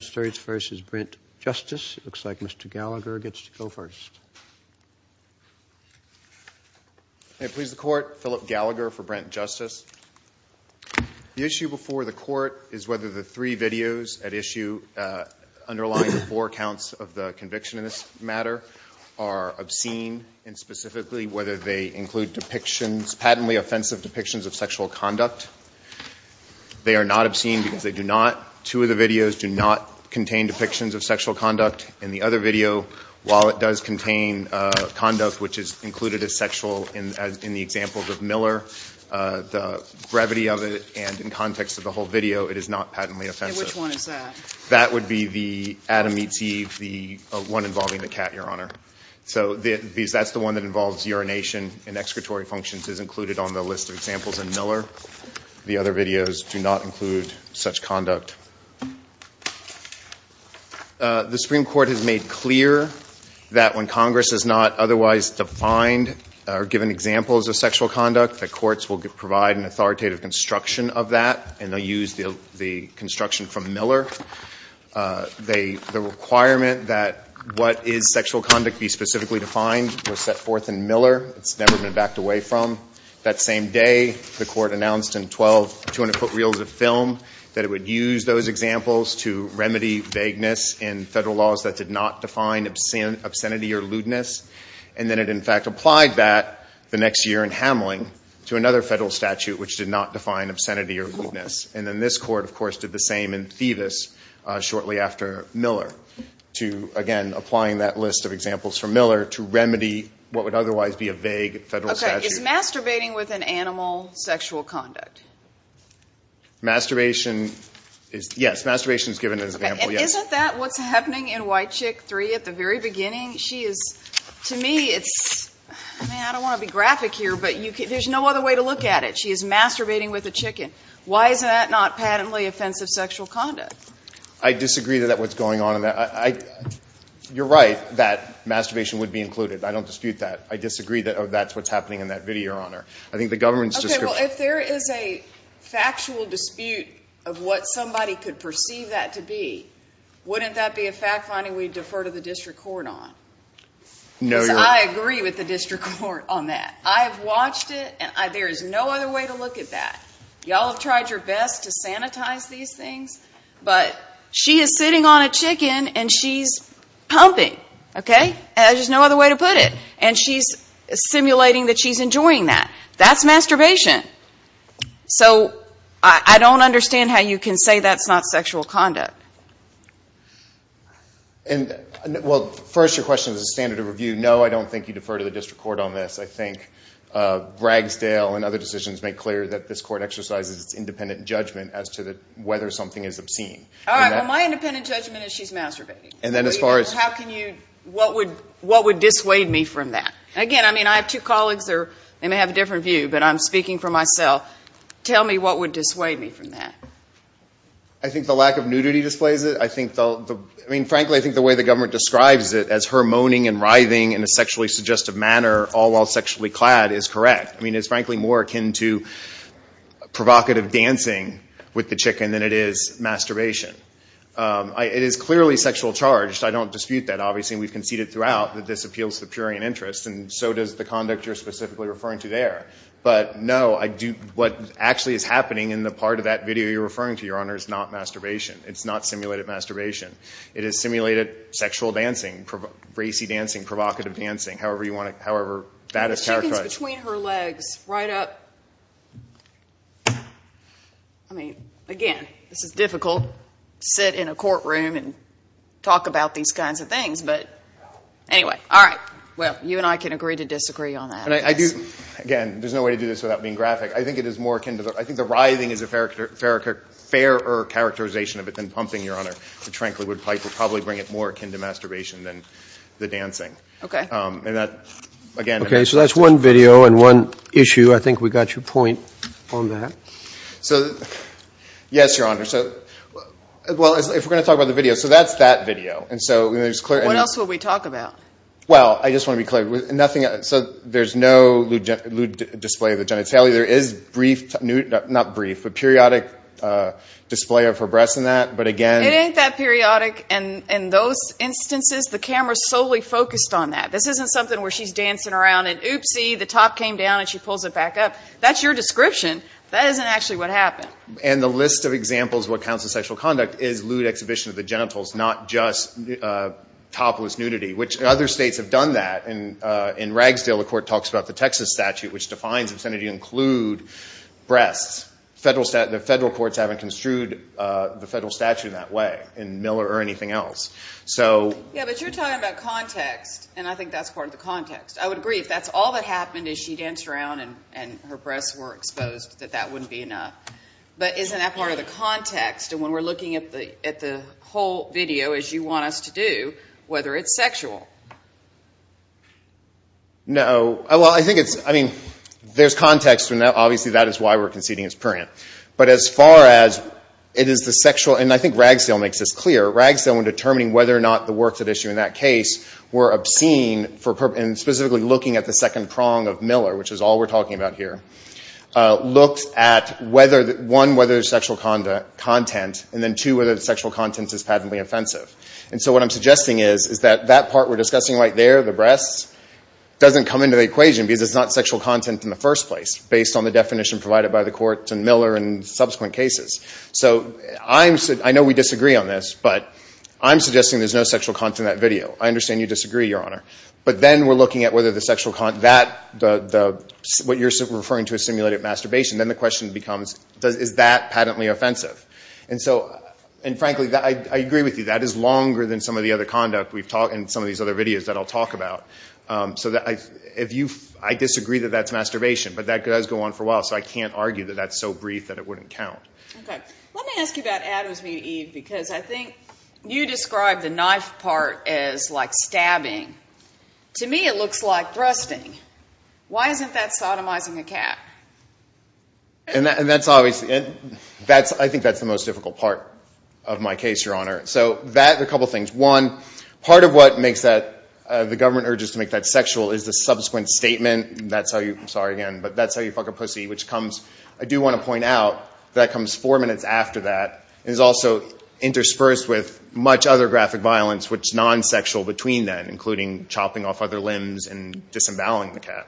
It looks like Mr. Gallagher gets to go first. Can I please the Court? Philip Gallagher for Brent Justice. The issue before the Court is whether the three videos at issue underlying the four counts of the conviction in this matter are obscene and specifically whether they include depictions, patently offensive depictions of sexual conduct. They are not obscene because they do not, two of the videos do not contain depictions of sexual conduct. In the other video, while it does contain conduct which is included as sexual in the examples of Miller, the gravity of it and in context of the whole video, it is not patently offensive. Which one is that? That would be the Adam meets Eve, the one involving the cat, Your Honor. So that's the one that involves urination and excretory functions is included on the list of examples in Miller. The other videos do not include such conduct. The Supreme Court has made clear that when Congress has not otherwise defined or given examples of sexual conduct, the courts will provide an authoritative construction of that and they'll use the construction from Miller. The requirement that what is sexual conduct be specifically defined was set forth in Miller. It's never been backed away from. That same day, the court announced in twelve 200-foot reels of film that it would use those examples to remedy vagueness in federal laws that did not define obscenity or lewdness. And then it in fact applied that the next year in Hamling to another federal statute which did not define obscenity or lewdness. And then this court, of course, did the same in Thevis shortly after Miller to, again, applying that list of examples from Miller to remedy what would otherwise be a vague federal statute. Okay. Is masturbating with an animal sexual conduct? Masturbation is, yes. Masturbation is given as an example, yes. Okay. And isn't that what's happening in White Chick 3 at the very beginning? She is, to me, it's, man, I don't want to be graphic here, but there's no other way to look at it. She is masturbating with a chicken. Why is that not patently offensive sexual conduct? I disagree that that's what's going on in that. You're right that masturbation would be included. I don't dispute that. I disagree that that's what's happening in that video, Your Honor. I think the government's description. Okay. Well, if there is a factual dispute of what somebody could perceive that to be, wouldn't that be a fact-finding we defer to the district court on? No, Your Honor. Because I agree with the district court on that. I have watched it, and there is no other way to look at that. Y'all have tried your best to sanitize these things, but she is sitting on a chicken, and she's pumping. Okay. There's no other way to put it. And she's simulating that she's enjoying that. That's masturbation. So I don't understand how you can say that's not sexual conduct. Well, first, your question is a standard of review. No, I don't think you defer to the district court on this. I think Bragsdale and other decisions make clear that this court exercises its independent judgment as to whether something is obscene. All right. Well, my independent judgment is she's masturbating. And then as far as – How can you – what would dissuade me from that? Again, I mean, I have two colleagues that may have a different view, but I'm speaking for myself. Tell me what would dissuade me from that. I think the lack of nudity displays it. I mean, frankly, I think the way the government describes it as her moaning and writhing in a sexually suggestive manner, all while sexually clad, is correct. I mean, it's frankly more akin to provocative dancing with the chicken than it is masturbation. It is clearly sexual charge. I don't dispute that. Obviously, we've conceded throughout that this appeals to the purian interest, and so does the conduct you're specifically referring to there. But, no, what actually is happening in the part of that video you're referring to, Your Honor, is not masturbation. It's not simulated masturbation. It is simulated sexual dancing, racy dancing, provocative dancing, however you want to – however that is characterized. Chickens between her legs, right up – I mean, again, this is difficult to sit in a courtroom and talk about these kinds of things. But, anyway, all right, well, you and I can agree to disagree on that. Again, there's no way to do this without being graphic. I think it is more akin to – I think the writhing is a fairer characterization of it than pumping, Your Honor. The tranquil woodpipe would probably bring it more akin to masturbation than the dancing. Okay. And that, again – Okay, so that's one video and one issue. I think we got your point on that. So, yes, Your Honor, so – well, if we're going to talk about the video, so that's that video. And so there's – What else will we talk about? Well, I just want to be clear. So there's no lewd display of the genitalia. There is brief – not brief, but periodic display of her breasts in that. But, again – It ain't that periodic in those instances. The camera is solely focused on that. This isn't something where she's dancing around and, oopsie, the top came down and she pulls it back up. That's your description. That isn't actually what happened. And the list of examples of what counts as sexual conduct is lewd exhibition of the genitals, not just topless nudity, which other states have done that. In Ragsdale, the court talks about the Texas statute, which defines obscenity to include breasts. The federal courts haven't construed the federal statute in that way in Miller or anything else. So – Yeah, but you're talking about context, and I think that's part of the context. I would agree if that's all that happened is she danced around and her breasts were exposed, that that wouldn't be enough. But isn't that part of the context? And when we're looking at the whole video, as you want us to do, whether it's sexual? No. Well, I think it's – I mean, there's context, and obviously that is why we're conceding it's prurient. But as far as it is the sexual – and I think Ragsdale makes this clear. Ragsdale, when determining whether or not the works at issue in that case were obscene, and specifically looking at the second prong of Miller, which is all we're talking about here, looked at, one, whether there's sexual content, and then, two, whether the sexual content is patently offensive. And so what I'm suggesting is that that part we're discussing right there, the breasts, doesn't come into the equation because it's not sexual content in the first place, based on the definition provided by the courts in Miller and subsequent cases. So I know we disagree on this, but I'm suggesting there's no sexual content in that video. I understand you disagree, Your Honor. But then we're looking at whether the sexual – what you're referring to as simulated masturbation. Then the question becomes, is that patently offensive? And so – and frankly, I agree with you. That is longer than some of the other conduct we've talked – and some of these other videos that I'll talk about. So if you – I disagree that that's masturbation, but that does go on for a while, so I can't argue that that's so brief that it wouldn't count. Okay. Let me ask you about Adam's video, Eve, because I think you described the knife part as like stabbing. To me, it looks like thrusting. Why isn't that sodomizing a cat? And that's obviously – that's – I think that's the most difficult part of my case, Your Honor. So that – a couple things. One, part of what makes that – the government urges to make that sexual is the subsequent statement. That's how you – I'm sorry, again, but that's how you fuck a pussy, which comes – I do want to point out, that comes four minutes after that, and is also interspersed with much other graphic violence which is non-sexual between then, including chopping off other limbs and disemboweling the cat.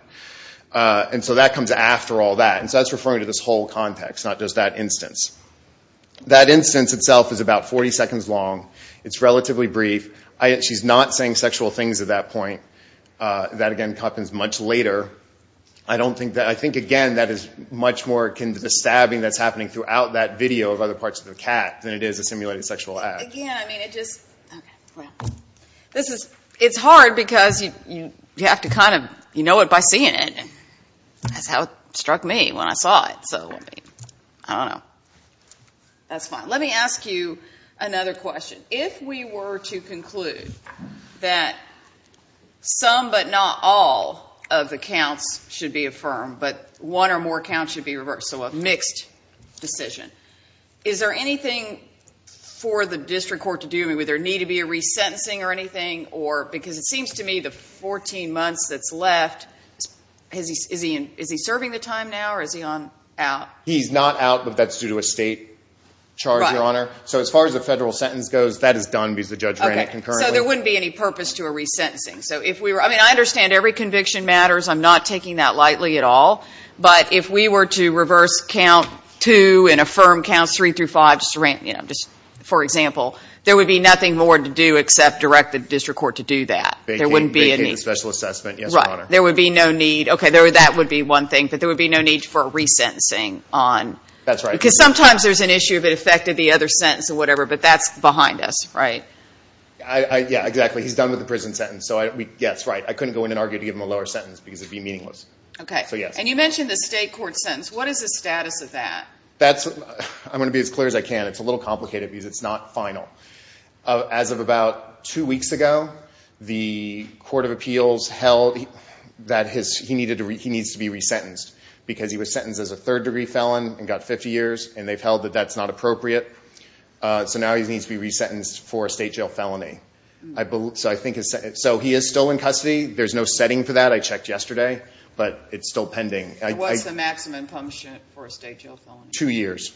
And so that comes after all that, and so that's referring to this whole context, not just that instance. That instance itself is about 40 seconds long. It's relatively brief. She's not saying sexual things at that point. That, again, happens much later. I don't think that – I think, again, that is much more the stabbing that's happening throughout that video of other parts of the cat than it is a simulated sexual act. Again, I mean, it just – okay. Well, this is – it's hard because you have to kind of – you know it by seeing it. That's how it struck me when I saw it. So, I don't know. That's fine. Let me ask you another question. If we were to conclude that some but not all of the counts should be affirmed, but one or more counts should be reversed, so a mixed decision, is there anything for the district court to do? Would there need to be a resentencing or anything? Because it seems to me the 14 months that's left, is he serving the time now or is he out? He's not out, but that's due to a state charge, Your Honor. So, as far as the federal sentence goes, that is done because the judge ran it concurrently. Okay. So, there wouldn't be any purpose to a resentencing. So, if we were – I mean, I understand every conviction matters. I'm not taking that lightly at all. But if we were to reverse count two and affirm counts three through five, you know, just for example, there would be nothing more to do except direct the district court to do that. There wouldn't be a need. Vacate the special assessment, yes, Your Honor. Right. There would be no need. Okay, that would be one thing. But there would be no need for a resentencing on. That's right. Because sometimes there's an issue if it affected the other sentence or whatever, but that's behind us, right? Yeah, exactly. He's done with the prison sentence. So, yes, right. I couldn't go in and argue to give him a lower sentence because it would be meaningless. Okay. So, yes. And you mentioned the state court sentence. What is the status of that? I'm going to be as clear as I can. It's a little complicated because it's not final. As of about two weeks ago, the Court of Appeals held that he needs to be resentenced because he was sentenced as a third-degree felon and got 50 years, and they've held that that's not appropriate. So now he needs to be resentenced for a state jail felony. So he is still in custody. There's no setting for that. I checked yesterday, but it's still pending. What's the maximum punishment for a state jail felony? Two years.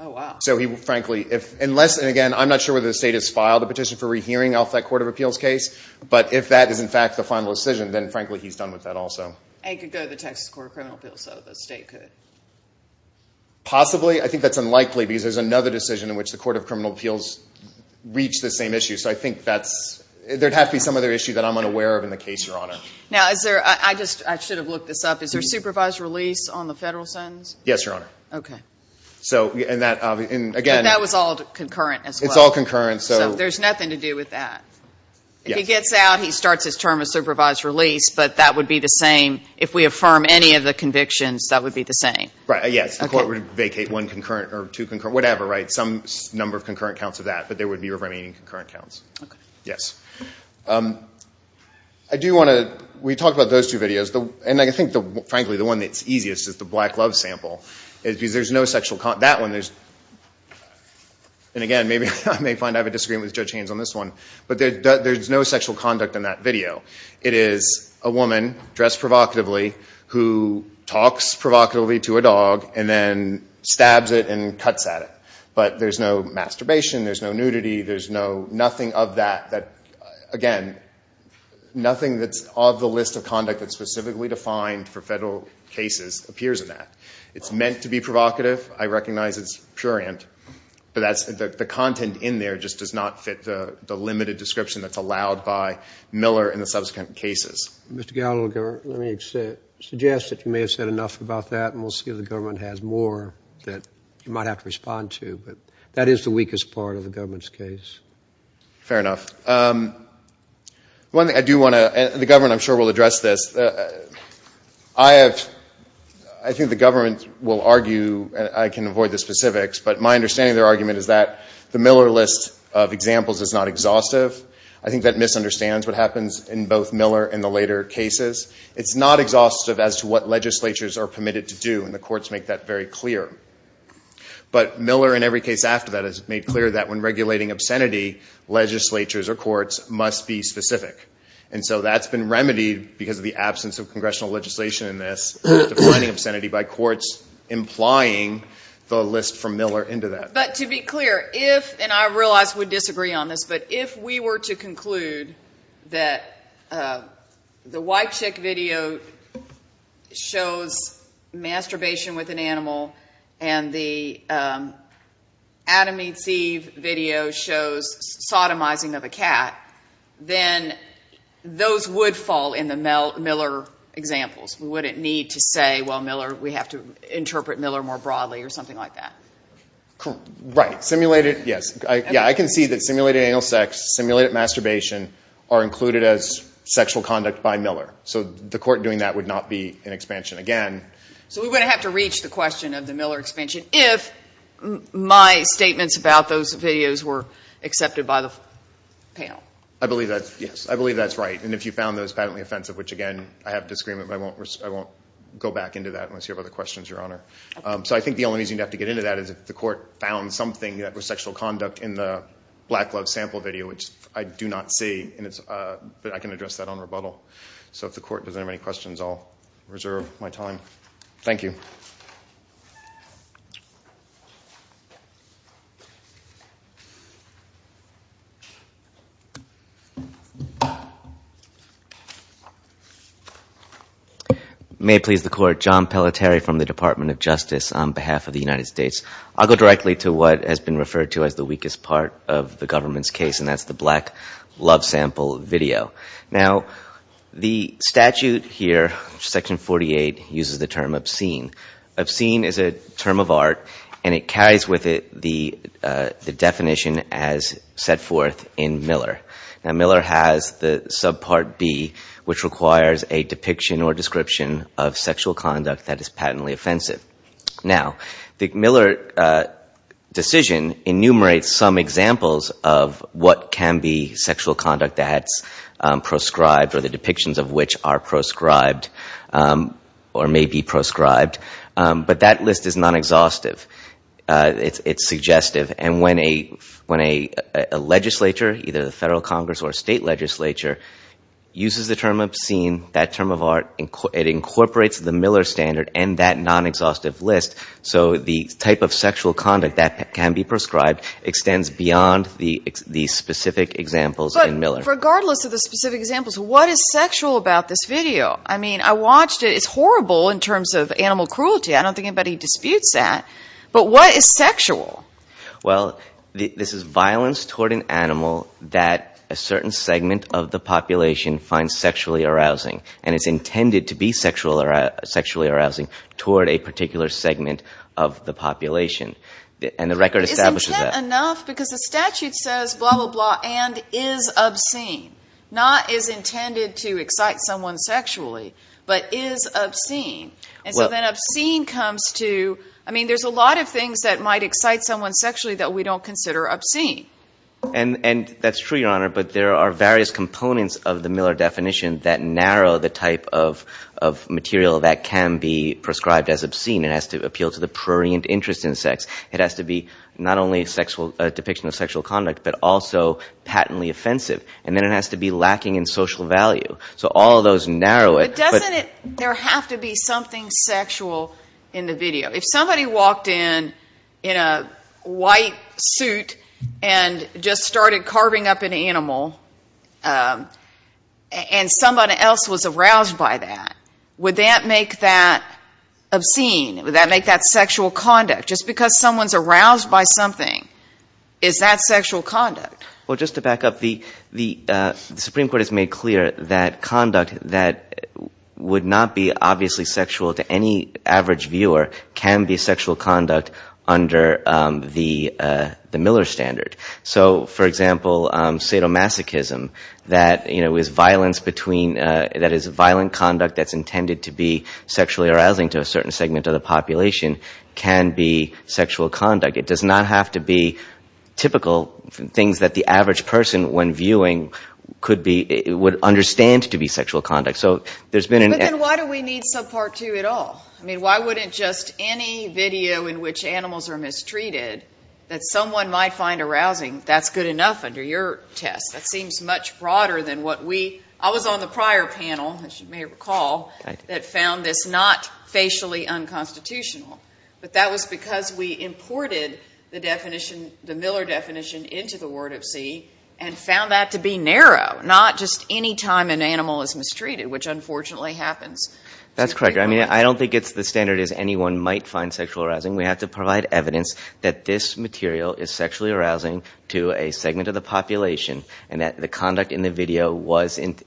Oh, wow. So, frankly, unless, and again, I'm not sure whether the state has filed a petition for rehearing off that Court of Appeals case, but if that is, in fact, the final decision, then, frankly, he's done with that also. And he could go to the Texas Court of Criminal Appeals, so the state could. Possibly. I think that's unlikely because there's another decision in which the Court of Criminal Appeals reached the same issue. So I think that's, there'd have to be some other issue that I'm unaware of in the case, Your Honor. Now, is there, I just, I should have looked this up. Is there supervised release on the federal sentence? Yes, Your Honor. Okay. So, and that, again. But that was all concurrent as well. It's all concurrent, so. So there's nothing to do with that. Yes. So he gets out, he starts his term of supervised release, but that would be the same, if we affirm any of the convictions, that would be the same. Right, yes. The court would vacate one concurrent, or two concurrent, whatever, right, some number of concurrent counts of that. But there would be remaining concurrent counts. Okay. Yes. I do want to, we talked about those two videos. And I think, frankly, the one that's easiest is the black love sample. Because there's no sexual, that one, there's, and again, maybe, I may find I have a disagreement with Judge Haynes on this one. But there's no sexual conduct in that video. It is a woman, dressed provocatively, who talks provocatively to a dog, and then stabs it and cuts at it. But there's no masturbation, there's no nudity, there's no, nothing of that, that, again, nothing that's of the list of conduct that's specifically defined for federal cases appears in that. It's meant to be provocative. I recognize it's prurient. But that's, the content in there just does not fit the limited description that's allowed by Miller in the subsequent cases. Mr. Gallagher, let me suggest that you may have said enough about that, and we'll see if the government has more that you might have to respond to. But that is the weakest part of the government's case. Fair enough. One thing I do want to, and the government, I'm sure, will address this. I have, I think the government will argue, and I can avoid the specifics, but my understanding of their argument is that the Miller list of examples is not exhaustive. I think that misunderstands what happens in both Miller and the later cases. It's not exhaustive as to what legislatures are permitted to do, and the courts make that very clear. But Miller, in every case after that, has made clear that when regulating obscenity, legislatures or courts must be specific. And so that's been remedied because of the absence of congressional legislation in this, defining obscenity by courts, implying the list from Miller into that. But to be clear, if, and I realize we disagree on this, but if we were to conclude that the white chick video shows masturbation with an animal, and the Adam eats Eve video shows sodomizing of a cat, then those would fall in the Miller examples. We wouldn't need to say, well, Miller, we have to interpret Miller more broadly or something like that. Right. Simulated, yes. Yeah, I can see that simulated anal sex, simulated masturbation are included as sexual conduct by Miller. So the court doing that would not be an expansion again. So we would have to reach the question of the Miller expansion if my statements about those videos were accepted by the panel. I believe that, yes, I believe that's right. And if you found those patently offensive, which, again, I have disagreement, but I won't go back into that unless you have other questions, Your Honor. So I think the only reason you'd have to get into that is if the court found something that was sexual conduct in the Black Love sample video, which I do not see, but I can address that on rebuttal. So if the court doesn't have any questions, I'll reserve my time. Thank you. May it please the court, John Pelletier from the Department of Justice on behalf of the United States. I'll go directly to what has been referred to as the weakest part of the government's case, and that's the Black Love sample video. Now, the statute here, Section 48, uses the term obscene. Obscene is a term of art, and it carries with it the definition as set forth in Miller. Now, Miller has the subpart B, which requires a depiction or description of sexual conduct that is patently offensive. Now, the Miller decision enumerates some examples of what can be sexual conduct that's proscribed or the depictions of which are proscribed or may be proscribed, but that list is non-exhaustive. It's suggestive, and when a legislature, either the federal Congress or state legislature, uses the term obscene, that term of art, it incorporates the Miller standard and that non-exhaustive list, so the type of sexual conduct that can be proscribed extends beyond the specific examples in Miller. But regardless of the specific examples, what is sexual about this video? I mean, I watched it. It's horrible in terms of animal cruelty. I don't think anybody disputes that. But what is sexual? Well, this is violence toward an animal that a certain segment of the population finds sexually arousing, and it's intended to be sexually arousing toward a particular segment of the population. And the record establishes that. But isn't that enough? Because the statute says blah, blah, blah, and is obscene, not is intended to excite someone sexually, but is obscene. And so then obscene comes to, I mean, there's a lot of things that might excite someone sexually that we don't consider obscene. And that's true, Your Honor, but there are various components of the Miller definition that narrow the type of material that can be proscribed as obscene. It has to appeal to the prurient interest in sex. It has to be not only a depiction of sexual conduct, but also patently offensive. And then it has to be lacking in social value. So all of those narrow it. But doesn't there have to be something sexual in the video? If somebody walked in in a white suit and just started carving up an animal and somebody else was aroused by that, would that make that obscene? Would that make that sexual conduct? Just because someone's aroused by something, is that sexual conduct? Well, just to back up, the Supreme Court has made clear that conduct that would not be obviously sexual to any average viewer can be sexual conduct under the Miller standard. So, for example, sadomasochism, that is violent conduct that's intended to be sexually arousing to a certain segment of the population, can be sexual conduct. It does not have to be typical things that the average person, when viewing, would understand to be sexual conduct. But then why do we need subpart 2 at all? I mean, why wouldn't just any video in which animals are mistreated, that someone might find arousing, that's good enough under your test? That seems much broader than what we, I was on the prior panel, as you may recall, that found this not facially unconstitutional. But that was because we imported the definition, the Miller definition, into the word of C and found that to be narrow, not just any time an animal is mistreated, which unfortunately happens. That's correct. I mean, I don't think it's the standard as anyone might find sexual arousing. We have to provide evidence that this material is sexually arousing to a segment of the population and that the conduct in the video was, and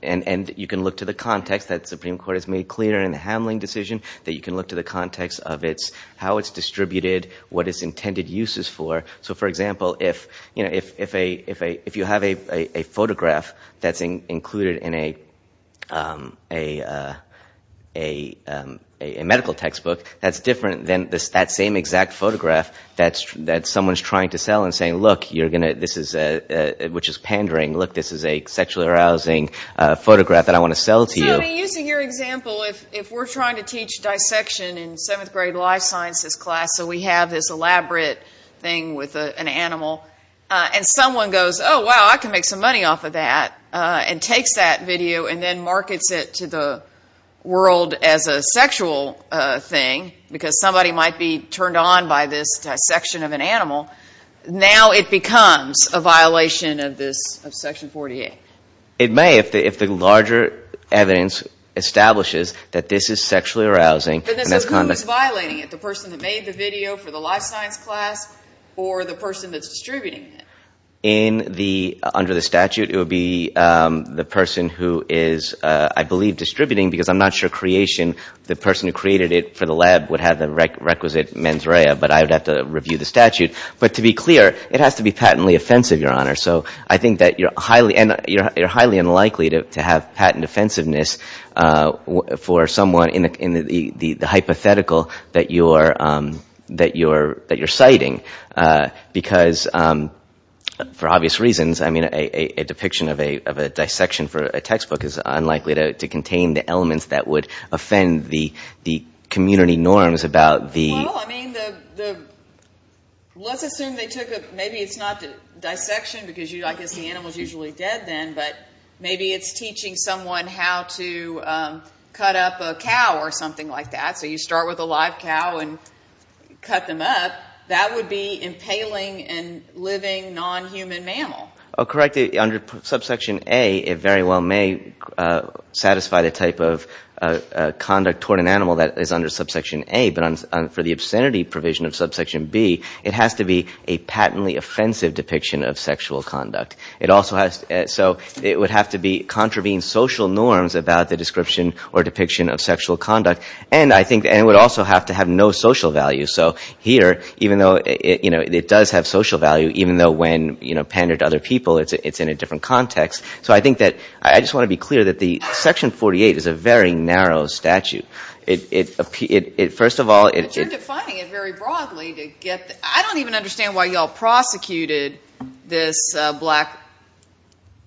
you can look to the context that the Supreme Court has made clear in the Hamling decision, that you can look to the context of how it's distributed, what its intended use is for. So, for example, if you have a photograph that's included in a medical textbook, that's different than that same exact photograph that someone's trying to sell and saying, look, you're going to, this is, which is pandering, look, this is a sexually arousing photograph that I want to sell to you. So, I mean, using your example, if we're trying to teach dissection in seventh grade life sciences class, so we have this elaborate thing with an animal, and someone goes, oh, wow, I can make some money off of that, and takes that video and then markets it to the world as a sexual thing, because somebody might be turned on by this dissection of an animal, now it becomes a violation of this, of Section 48. It may, if the larger evidence establishes that this is sexually arousing. But this is who is violating it, the person that made the video for the life science class or the person that's distributing it? In the, under the statute, it would be the person who is, I believe, distributing, because I'm not sure creation, the person who created it for the lab would have the requisite mens rea, but I would have to review the statute. But to be clear, it has to be patently offensive, Your Honor. So I think that you're highly, and you're highly unlikely to have patent offensiveness for someone in the hypothetical that you're, that you're, that you're citing. Because, for obvious reasons, I mean, a depiction of a, of a dissection for a textbook is unlikely to contain the elements that would offend the, the community norms about the... Well, I mean, the, the, let's assume they took a, maybe it's not dissection, because you, I guess the animal's usually dead then, but maybe it's teaching someone how to cut up a cow or something like that, so you start with a live cow and cut them up. That would be impaling a living, non-human mammal. Oh, correct. Under subsection A, it very well may satisfy the type of conduct toward an animal that is under subsection A, but for the obscenity provision of subsection B, it has to be a patently offensive depiction of sexual conduct. It also has, so it would have to be, contravene social norms about the description or depiction of sexual conduct, and I think, and it would also have to have no social value. So here, even though it, you know, it does have social value, even though when, you know, pandered to other people, it's in a different context. So I think that, I just want to be clear that the section 48 is a very narrow statute. It, it, first of all, it... But you're defining it very broadly to get, I don't even understand why you all prosecuted this black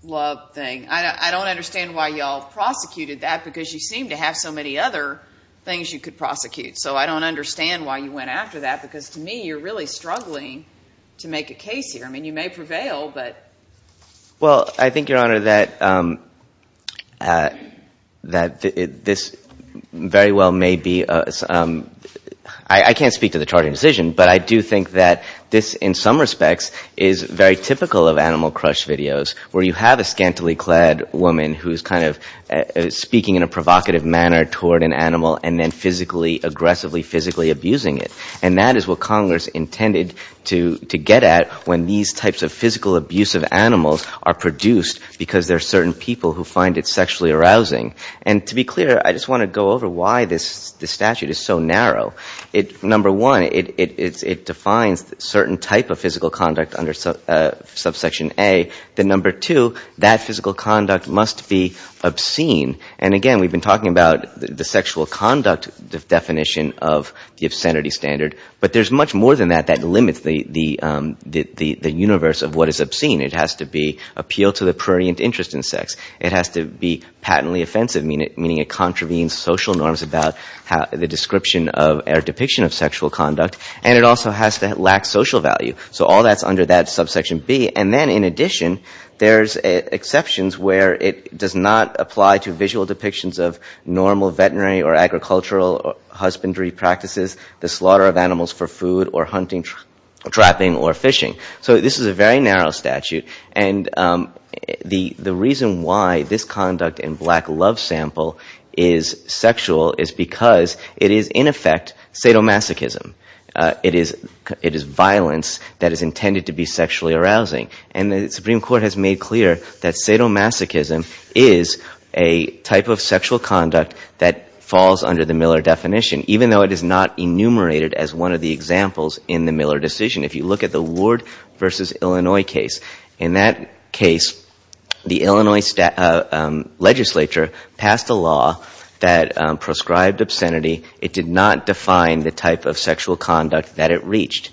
love thing. I don't understand why you all prosecuted that, because you seem to have so many other things you could prosecute. So I don't understand why you went after that, because to me, you're really struggling to make a case here. I mean, you may prevail, but... Well, I think, Your Honor, that, that this very well may be, I can't speak to the charging decision, but I do think that this, in some respects, is very typical of animal crush videos, where you have a scantily clad woman who's kind of speaking in a provocative manner toward an animal and then physically, aggressively, physically abusing it. And that is what Congress intended to, to get at when these types of physical abusive animals are produced, because there are certain people who find it sexually arousing. And to be clear, I just want to go over why this, this statute is so narrow. Number one, it defines certain type of physical conduct under subsection A. Then number two, that physical conduct must be obscene. And again, we've been talking about the sexual conduct definition of the obscenity standard, but there's much more than that that limits the universe of what is obscene. It has to be appeal to the prurient interest in sex. It has to be patently offensive, meaning it contravenes social norms about the description or depiction of sexual conduct. And it also has to lack social value. So all that's under that subsection B. And then, in addition, there's exceptions where it does not apply to visual depictions of normal veterinary or agricultural husbandry practices, the slaughter of animals for food, or hunting, trapping, or fishing. So this is a very narrow statute. And the reason why this conduct in black love sample is sexual is because it is, in effect, sadomasochism. It is violence that is intended to be sexually arousing. And the Supreme Court has made clear that sadomasochism is a type of sexual conduct that falls under the Miller definition, even though it is not enumerated as one of the examples in the Miller decision. If you look at the Ward v. Illinois case, in that case, the Illinois legislature passed a law that prescribed obscenity. It did not define the type of sexual conduct that it reached.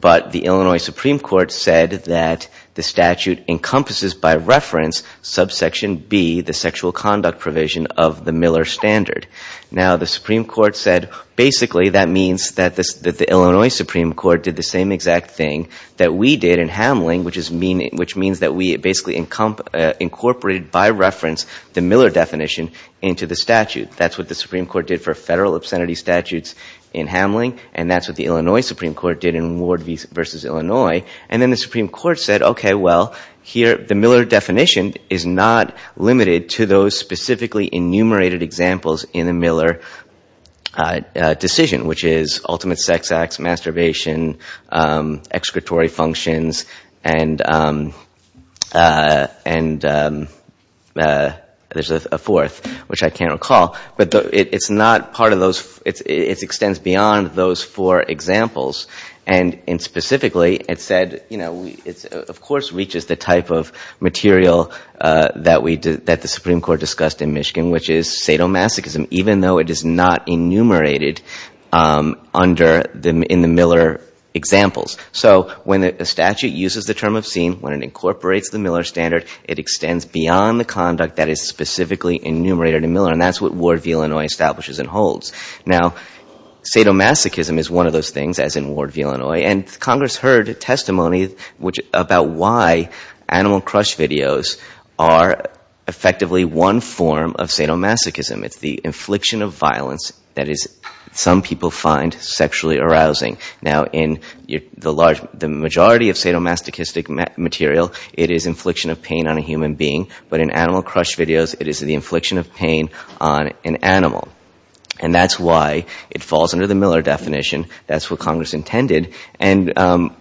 But the Illinois Supreme Court said that the statute encompasses, by reference, subsection B, the sexual conduct provision of the Miller standard. Now, the Supreme Court said, basically, that means that the Illinois Supreme Court did the same exact thing that we did in Hamling, which means that we basically incorporated, by reference, the Miller definition into the statute. That's what the Supreme Court did for federal obscenity statutes in Hamling, and that's what the Illinois Supreme Court did in Ward v. Illinois. And then the Supreme Court said, okay, well, here, the Miller definition is not limited to those specifically enumerated examples in the Miller decision, which is ultimate sex acts, masturbation, executory functions, and there's a fourth, which I can't recall. But it's not part of those. It extends beyond those four examples. And specifically, it said, you know, it of course reaches the type of material that the Supreme Court discussed in Michigan, which is sadomasochism, even though it is not enumerated in the Miller examples. So when a statute uses the term obscene, when it incorporates the Miller standard, it extends beyond the conduct that is specifically enumerated in Miller, and that's what Ward v. Illinois establishes and holds. Now, sadomasochism is one of those things, as in Ward v. Illinois, and Congress heard testimony about why animal crush videos are effectively one form of sadomasochism. It's the infliction of violence that some people find sexually arousing. Now, in the majority of sadomasochistic material, it is infliction of pain on a human being, but in animal crush videos, it is the infliction of pain on an animal. And that's why it falls under the Miller definition. That's what Congress intended. And to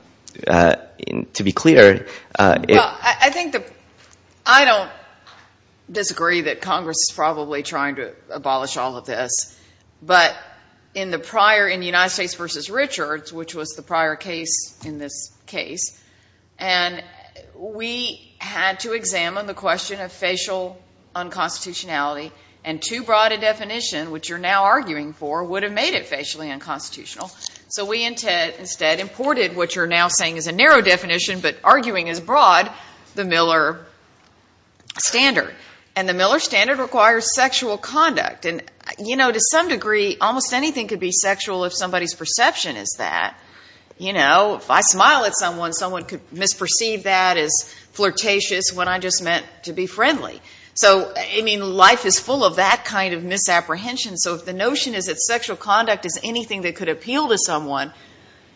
be clear, it — Well, I think the — I don't disagree that Congress is probably trying to abolish all of this, but in the prior — in the United States v. Richards, which was the prior case in this case, and we had to examine the question of facial unconstitutionality and too broad a definition, which you're now arguing for, would have made it facially unconstitutional. So we instead imported what you're now saying is a narrow definition, but arguing as broad, the Miller standard. And the Miller standard requires sexual conduct. And, you know, to some degree, almost anything could be sexual if somebody's perception is that. You know, if I smile at someone, someone could misperceive that as flirtatious when I just meant to be friendly. So, I mean, life is full of that kind of misapprehension. So if the notion is that sexual conduct is anything that could appeal to someone,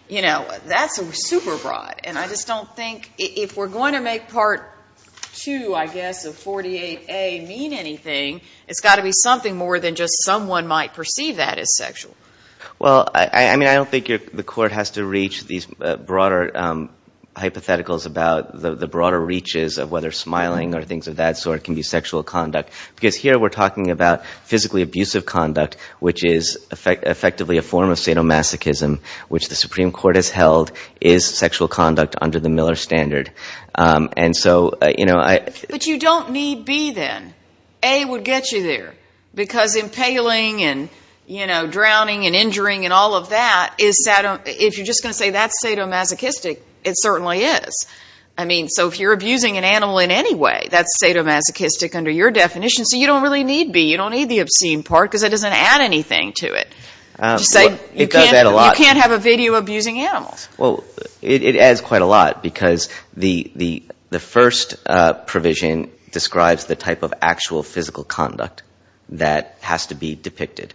you know, that's super broad. And I just don't think — if we're going to make Part 2, I guess, of 48A mean anything, it's got to be something more than just someone might perceive that as sexual. Well, I mean, I don't think the Court has to reach these broader hypotheticals about the broader reaches of whether smiling or things of that sort can be sexual conduct. Because here we're talking about physically abusive conduct, which is effectively a form of sadomasochism, which the Supreme Court has held is sexual conduct under the Miller standard. And so, you know, I — But you don't need B then. A would get you there. Because impaling and, you know, drowning and injuring and all of that, if you're just going to say that's sadomasochistic, it certainly is. I mean, so if you're abusing an animal in any way, that's sadomasochistic under your definition. So you don't really need B. You don't need the obscene part because it doesn't add anything to it. It does add a lot. You can't have a video abusing animals. Well, it adds quite a lot because the first provision describes the type of actual physical conduct that has to be depicted.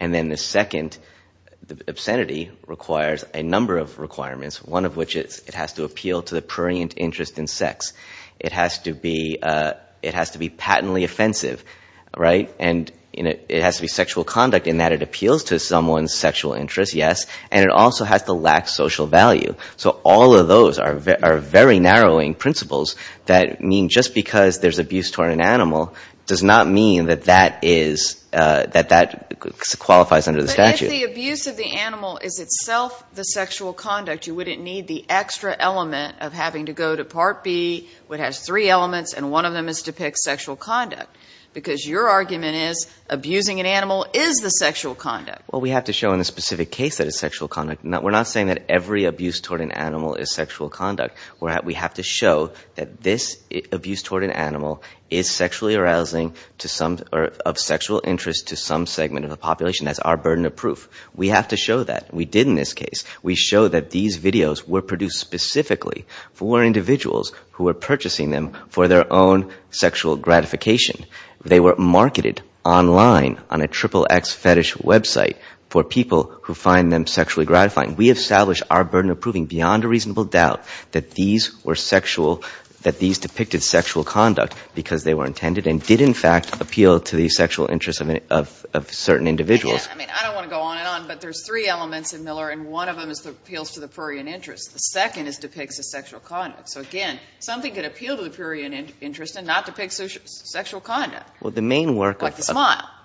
And then the second, the obscenity, requires a number of requirements, one of which is it has to appeal to the prurient interest in sex. It has to be patently offensive, right? And it has to be sexual conduct in that it appeals to someone's sexual interest, yes, and it also has to lack social value. So all of those are very narrowing principles that mean just because there's abuse toward an animal does not mean that that qualifies under the statute. But if the abuse of the animal is itself the sexual conduct, you wouldn't need the extra element of having to go to Part B, which has three elements and one of them is to depict sexual conduct, because your argument is abusing an animal is the sexual conduct. Well, we have to show in the specific case that it's sexual conduct. We're not saying that every abuse toward an animal is sexual conduct. We have to show that this abuse toward an animal is sexually arousing or of sexual interest to some segment of the population. That's our burden of proof. We have to show that. We did in this case. We showed that these videos were produced specifically for individuals who were purchasing them for their own sexual gratification. They were marketed online on a XXX fetish website for people who find them sexually gratifying. We have established our burden of proving beyond a reasonable doubt that these were sexual, that these depicted sexual conduct because they were intended and did in fact appeal to the sexual interests of certain individuals. I mean, I don't want to go on and on, but there's three elements in Miller and one of them is the appeals to the prurient interest. The second is depicts the sexual conduct. So, again, something could appeal to the prurient interest and not depict sexual conduct. Well, the main work of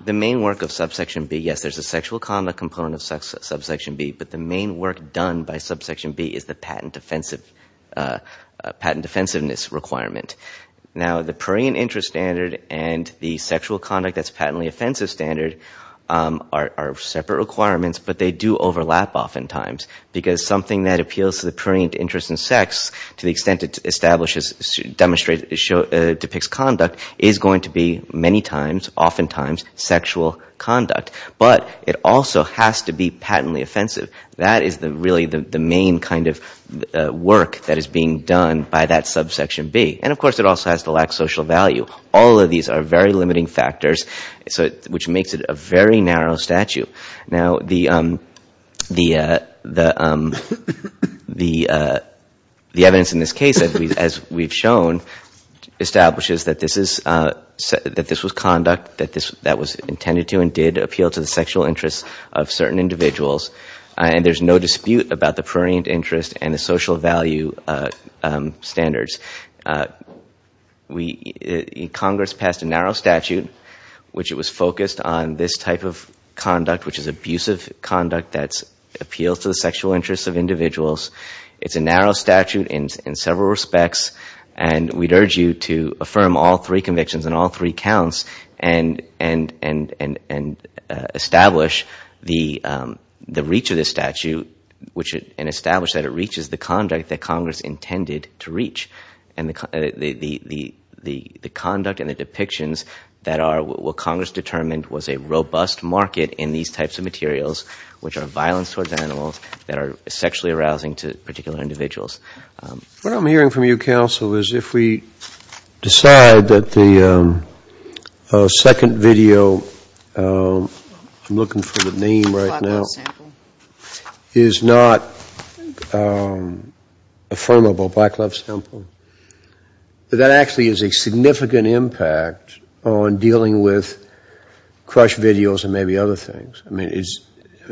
the main work of subsection B, yes, there's a sexual conduct component of subsection B, but the main work done by subsection B is the patent defensiveness requirement. Now, the prurient interest standard and the sexual conduct that's patently offensive standard are separate requirements, but they do overlap oftentimes because something that appeals to the prurient interest in sex to the extent it establishes, demonstrates, depicts conduct is going to be many times, oftentimes, sexual conduct. But it also has to be patently offensive. That is really the main kind of work that is being done by that subsection B. And, of course, it also has to lack social value. All of these are very limiting factors, which makes it a very narrow statute. Now, the evidence in this case, as we've shown, establishes that this was conduct that was intended to and did appeal to the sexual interests of certain individuals, and there's no dispute about the prurient interest and the social value standards. Congress passed a narrow statute, which it was focused on this type of conduct, which is abusive conduct that appeals to the sexual interests of individuals. It's a narrow statute in several respects, and we'd urge you to affirm all three accounts and establish the reach of this statute and establish that it reaches the conduct that Congress intended to reach and the conduct and the depictions that are what Congress determined was a robust market in these types of materials, which are violence towards animals that are sexually arousing to particular individuals. What I'm hearing from you, Counsel, is if we decide that the second video, I'm looking for the name right now, is not affirmable, Black Love Sample, that actually is a significant impact on dealing with crush videos and maybe other things. I mean,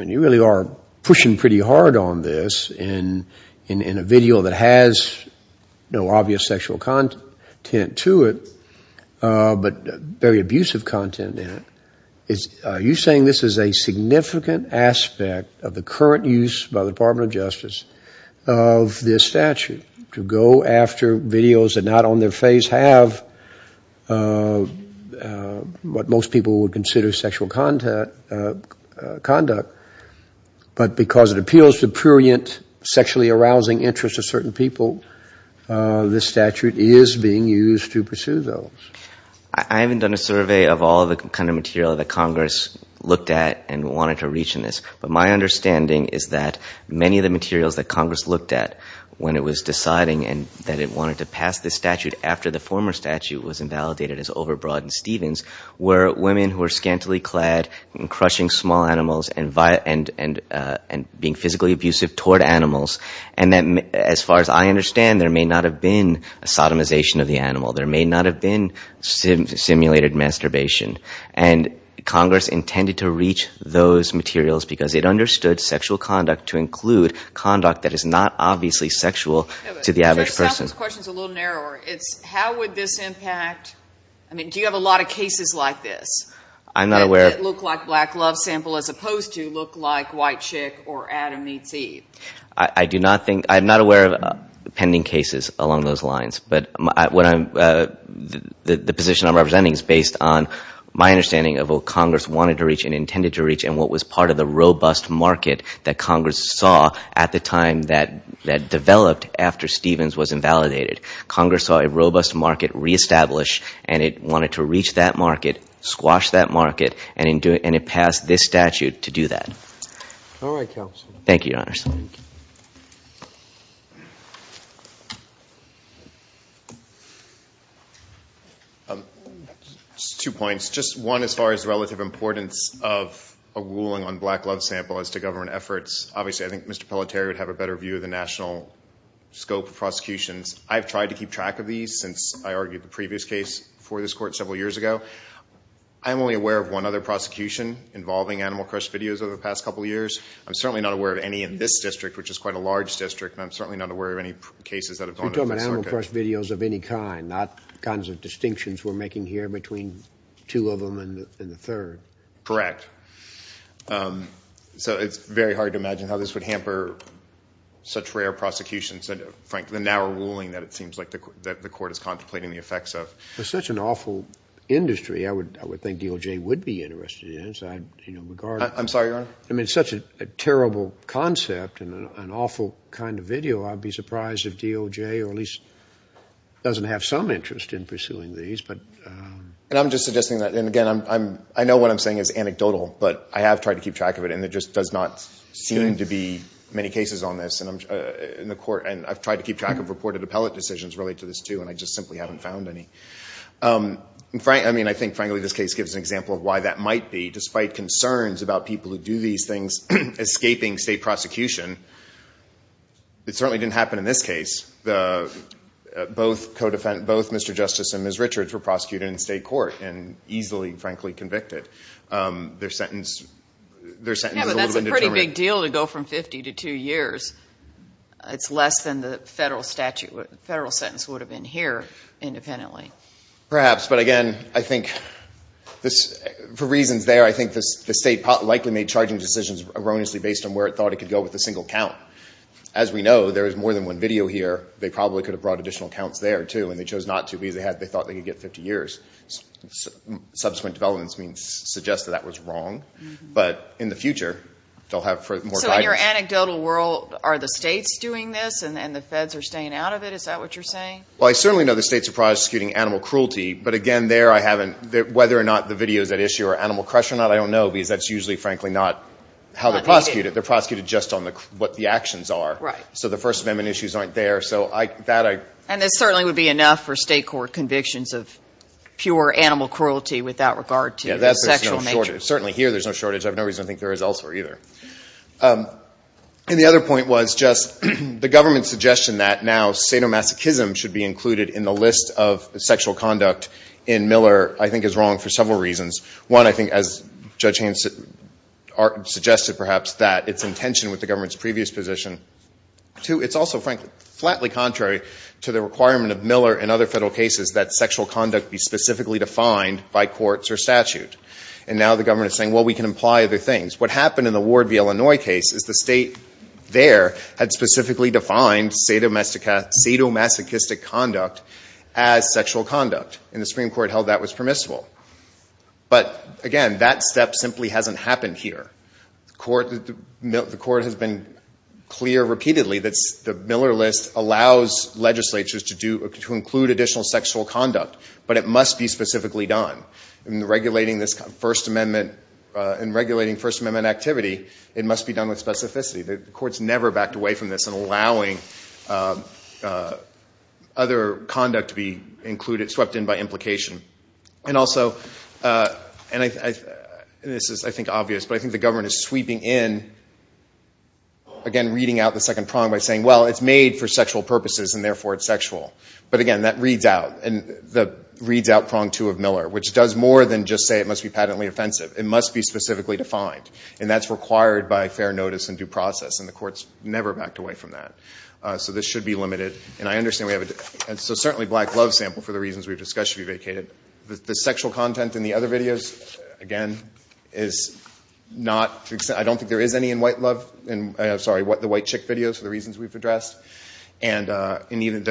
you really are pushing pretty hard on this in a video that has no obvious sexual content to it, but very abusive content in it. Are you saying this is a significant aspect of the current use by the Department of Justice of this statute to go after videos that not on their face have what most people would consider sexual conduct, but because it appeals to prurient sexually arousing interests of certain people, this statute is being used to pursue those? I haven't done a survey of all the kind of material that Congress looked at and wanted to reach in this, but my understanding is that many of the materials that Congress looked at when it was deciding that it wanted to pass this statute after the former statute was women who were scantily clad and crushing small animals and being physically abusive toward animals, and as far as I understand, there may not have been a sodomization of the animal, there may not have been simulated masturbation. And Congress intended to reach those materials because it understood sexual conduct to include conduct that is not obviously sexual to the average person. I'm going to ask those questions a little narrower. How would this impact, I mean, do you have a lot of cases like this that look like black love sample as opposed to look like white chick or Adam meets Eve? I'm not aware of pending cases along those lines, but the position I'm representing is based on my understanding of what Congress wanted to reach and intended to reach and what was part of the Congress saw a robust market reestablish and it wanted to reach that market, squash that market, and it passed this statute to do that. Thank you, Your Honors. Two points. Just one as far as relative importance of a ruling on black love sample as to government efforts. Obviously, I think Mr. Pelletier would have a better view of the national scope of prosecutions. I've tried to keep track of these since I argued the previous case for this court several years ago. I'm only aware of one other prosecution involving animal crush videos over the past couple of years. I'm certainly not aware of any in this district, which is quite a large district, and I'm certainly not aware of any cases that have gone to this circuit. You're talking about animal crush videos of any kind, not kinds of distinctions we're making here between two of them and the third. Correct. So it's very hard to imagine how this would hamper such rare prosecutions. Frankly, the narrow ruling that it seems like the court is contemplating the effects of. It's such an awful industry I would think DOJ would be interested in. I'm sorry, Your Honor? I mean, it's such a terrible concept and an awful kind of video. I'd be surprised if DOJ or at least doesn't have some interest in it. I mean, it's anecdotal, but I have tried to keep track of it, and there just does not seem to be many cases on this in the court. And I've tried to keep track of reported appellate decisions related to this, too, and I just simply haven't found any. I mean, I think, frankly, this case gives an example of why that might be. Despite concerns about people who do these things escaping state prosecution, it certainly didn't happen in this case. Both Mr. Justice and Ms. Richards were prosecuted in state court and easily, frankly, convicted. Yeah, but that's a pretty big deal to go from 50 to two years. It's less than the federal sentence would have been here independently. Perhaps, but again, I think for reasons there, I think the state likely made charging decisions erroneously based on where it thought it could go with a single count. As we know, there is more than one video here. They probably could have brought additional counts there, too, and they chose not to because they thought they could get 50 years. Subsequent developments suggest that that was wrong. But in the future, they'll have more guidance. So in your anecdotal world, are the states doing this and the feds are staying out of it? Is that what you're saying? Well, I certainly know the states are prosecuting animal cruelty, but again, there I haven't, whether or not the video is at issue or what the actions are. So the First Amendment issues aren't there. And this certainly would be enough for state court convictions of pure animal cruelty without regard to the sexual nature. Certainly here, there's no shortage. I have no reason to think there is elsewhere, either. And the other point was just the government's suggestion that now sadomasochism should be included in the list of sexual conduct in Miller I think is wrong for several reasons. One, I think, as Judge Haynes suggested, perhaps, that it's in tension with the government's previous position. Two, it's also, frankly, flatly contrary to the requirement of Miller and other federal cases that sexual conduct be specifically defined by courts or statute. And now the government is saying, well, we can imply other things. What happened in the Ward v. Illinois case is the state there had specifically defined sadomasochistic conduct as sexual conduct, and the Supreme Court held that was permissible. But again, that step simply hasn't happened here. The court has been clear repeatedly that the Miller list allows legislatures to include additional sexual conduct, but it must be specifically done. In regulating First Amendment activity, it must be done with specificity. The court's never backed away from this in allowing other conduct to be swept in by implication. And this is, I think, obvious, but I think the government is sweeping in, again, reading out the second prong by saying, well, it's made for sexual purposes, and therefore it's sexual. But again, that reads out prong two of Miller, which does more than just say it must be patently offensive. It must be specifically defined, and that's required by fair notice and due process. And the court's never backed away from that. So this should be limited. And so certainly black love sample, for the reasons we've discussed, should be vacated. The sexual content in the other videos, again, I don't think there is any in white love. I'm sorry, the white chick videos, for the reasons we've addressed. And even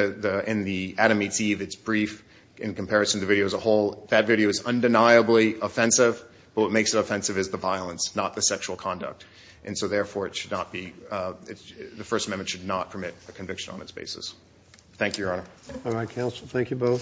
in the Adam Meets Eve, it's brief in comparison to the video as a whole. That video is undeniably offensive, but what makes it offensive is the violence, not the sexual conduct. And so therefore it should not be, the First Amendment should not permit a conviction on its basis. Thank you, Your Honor.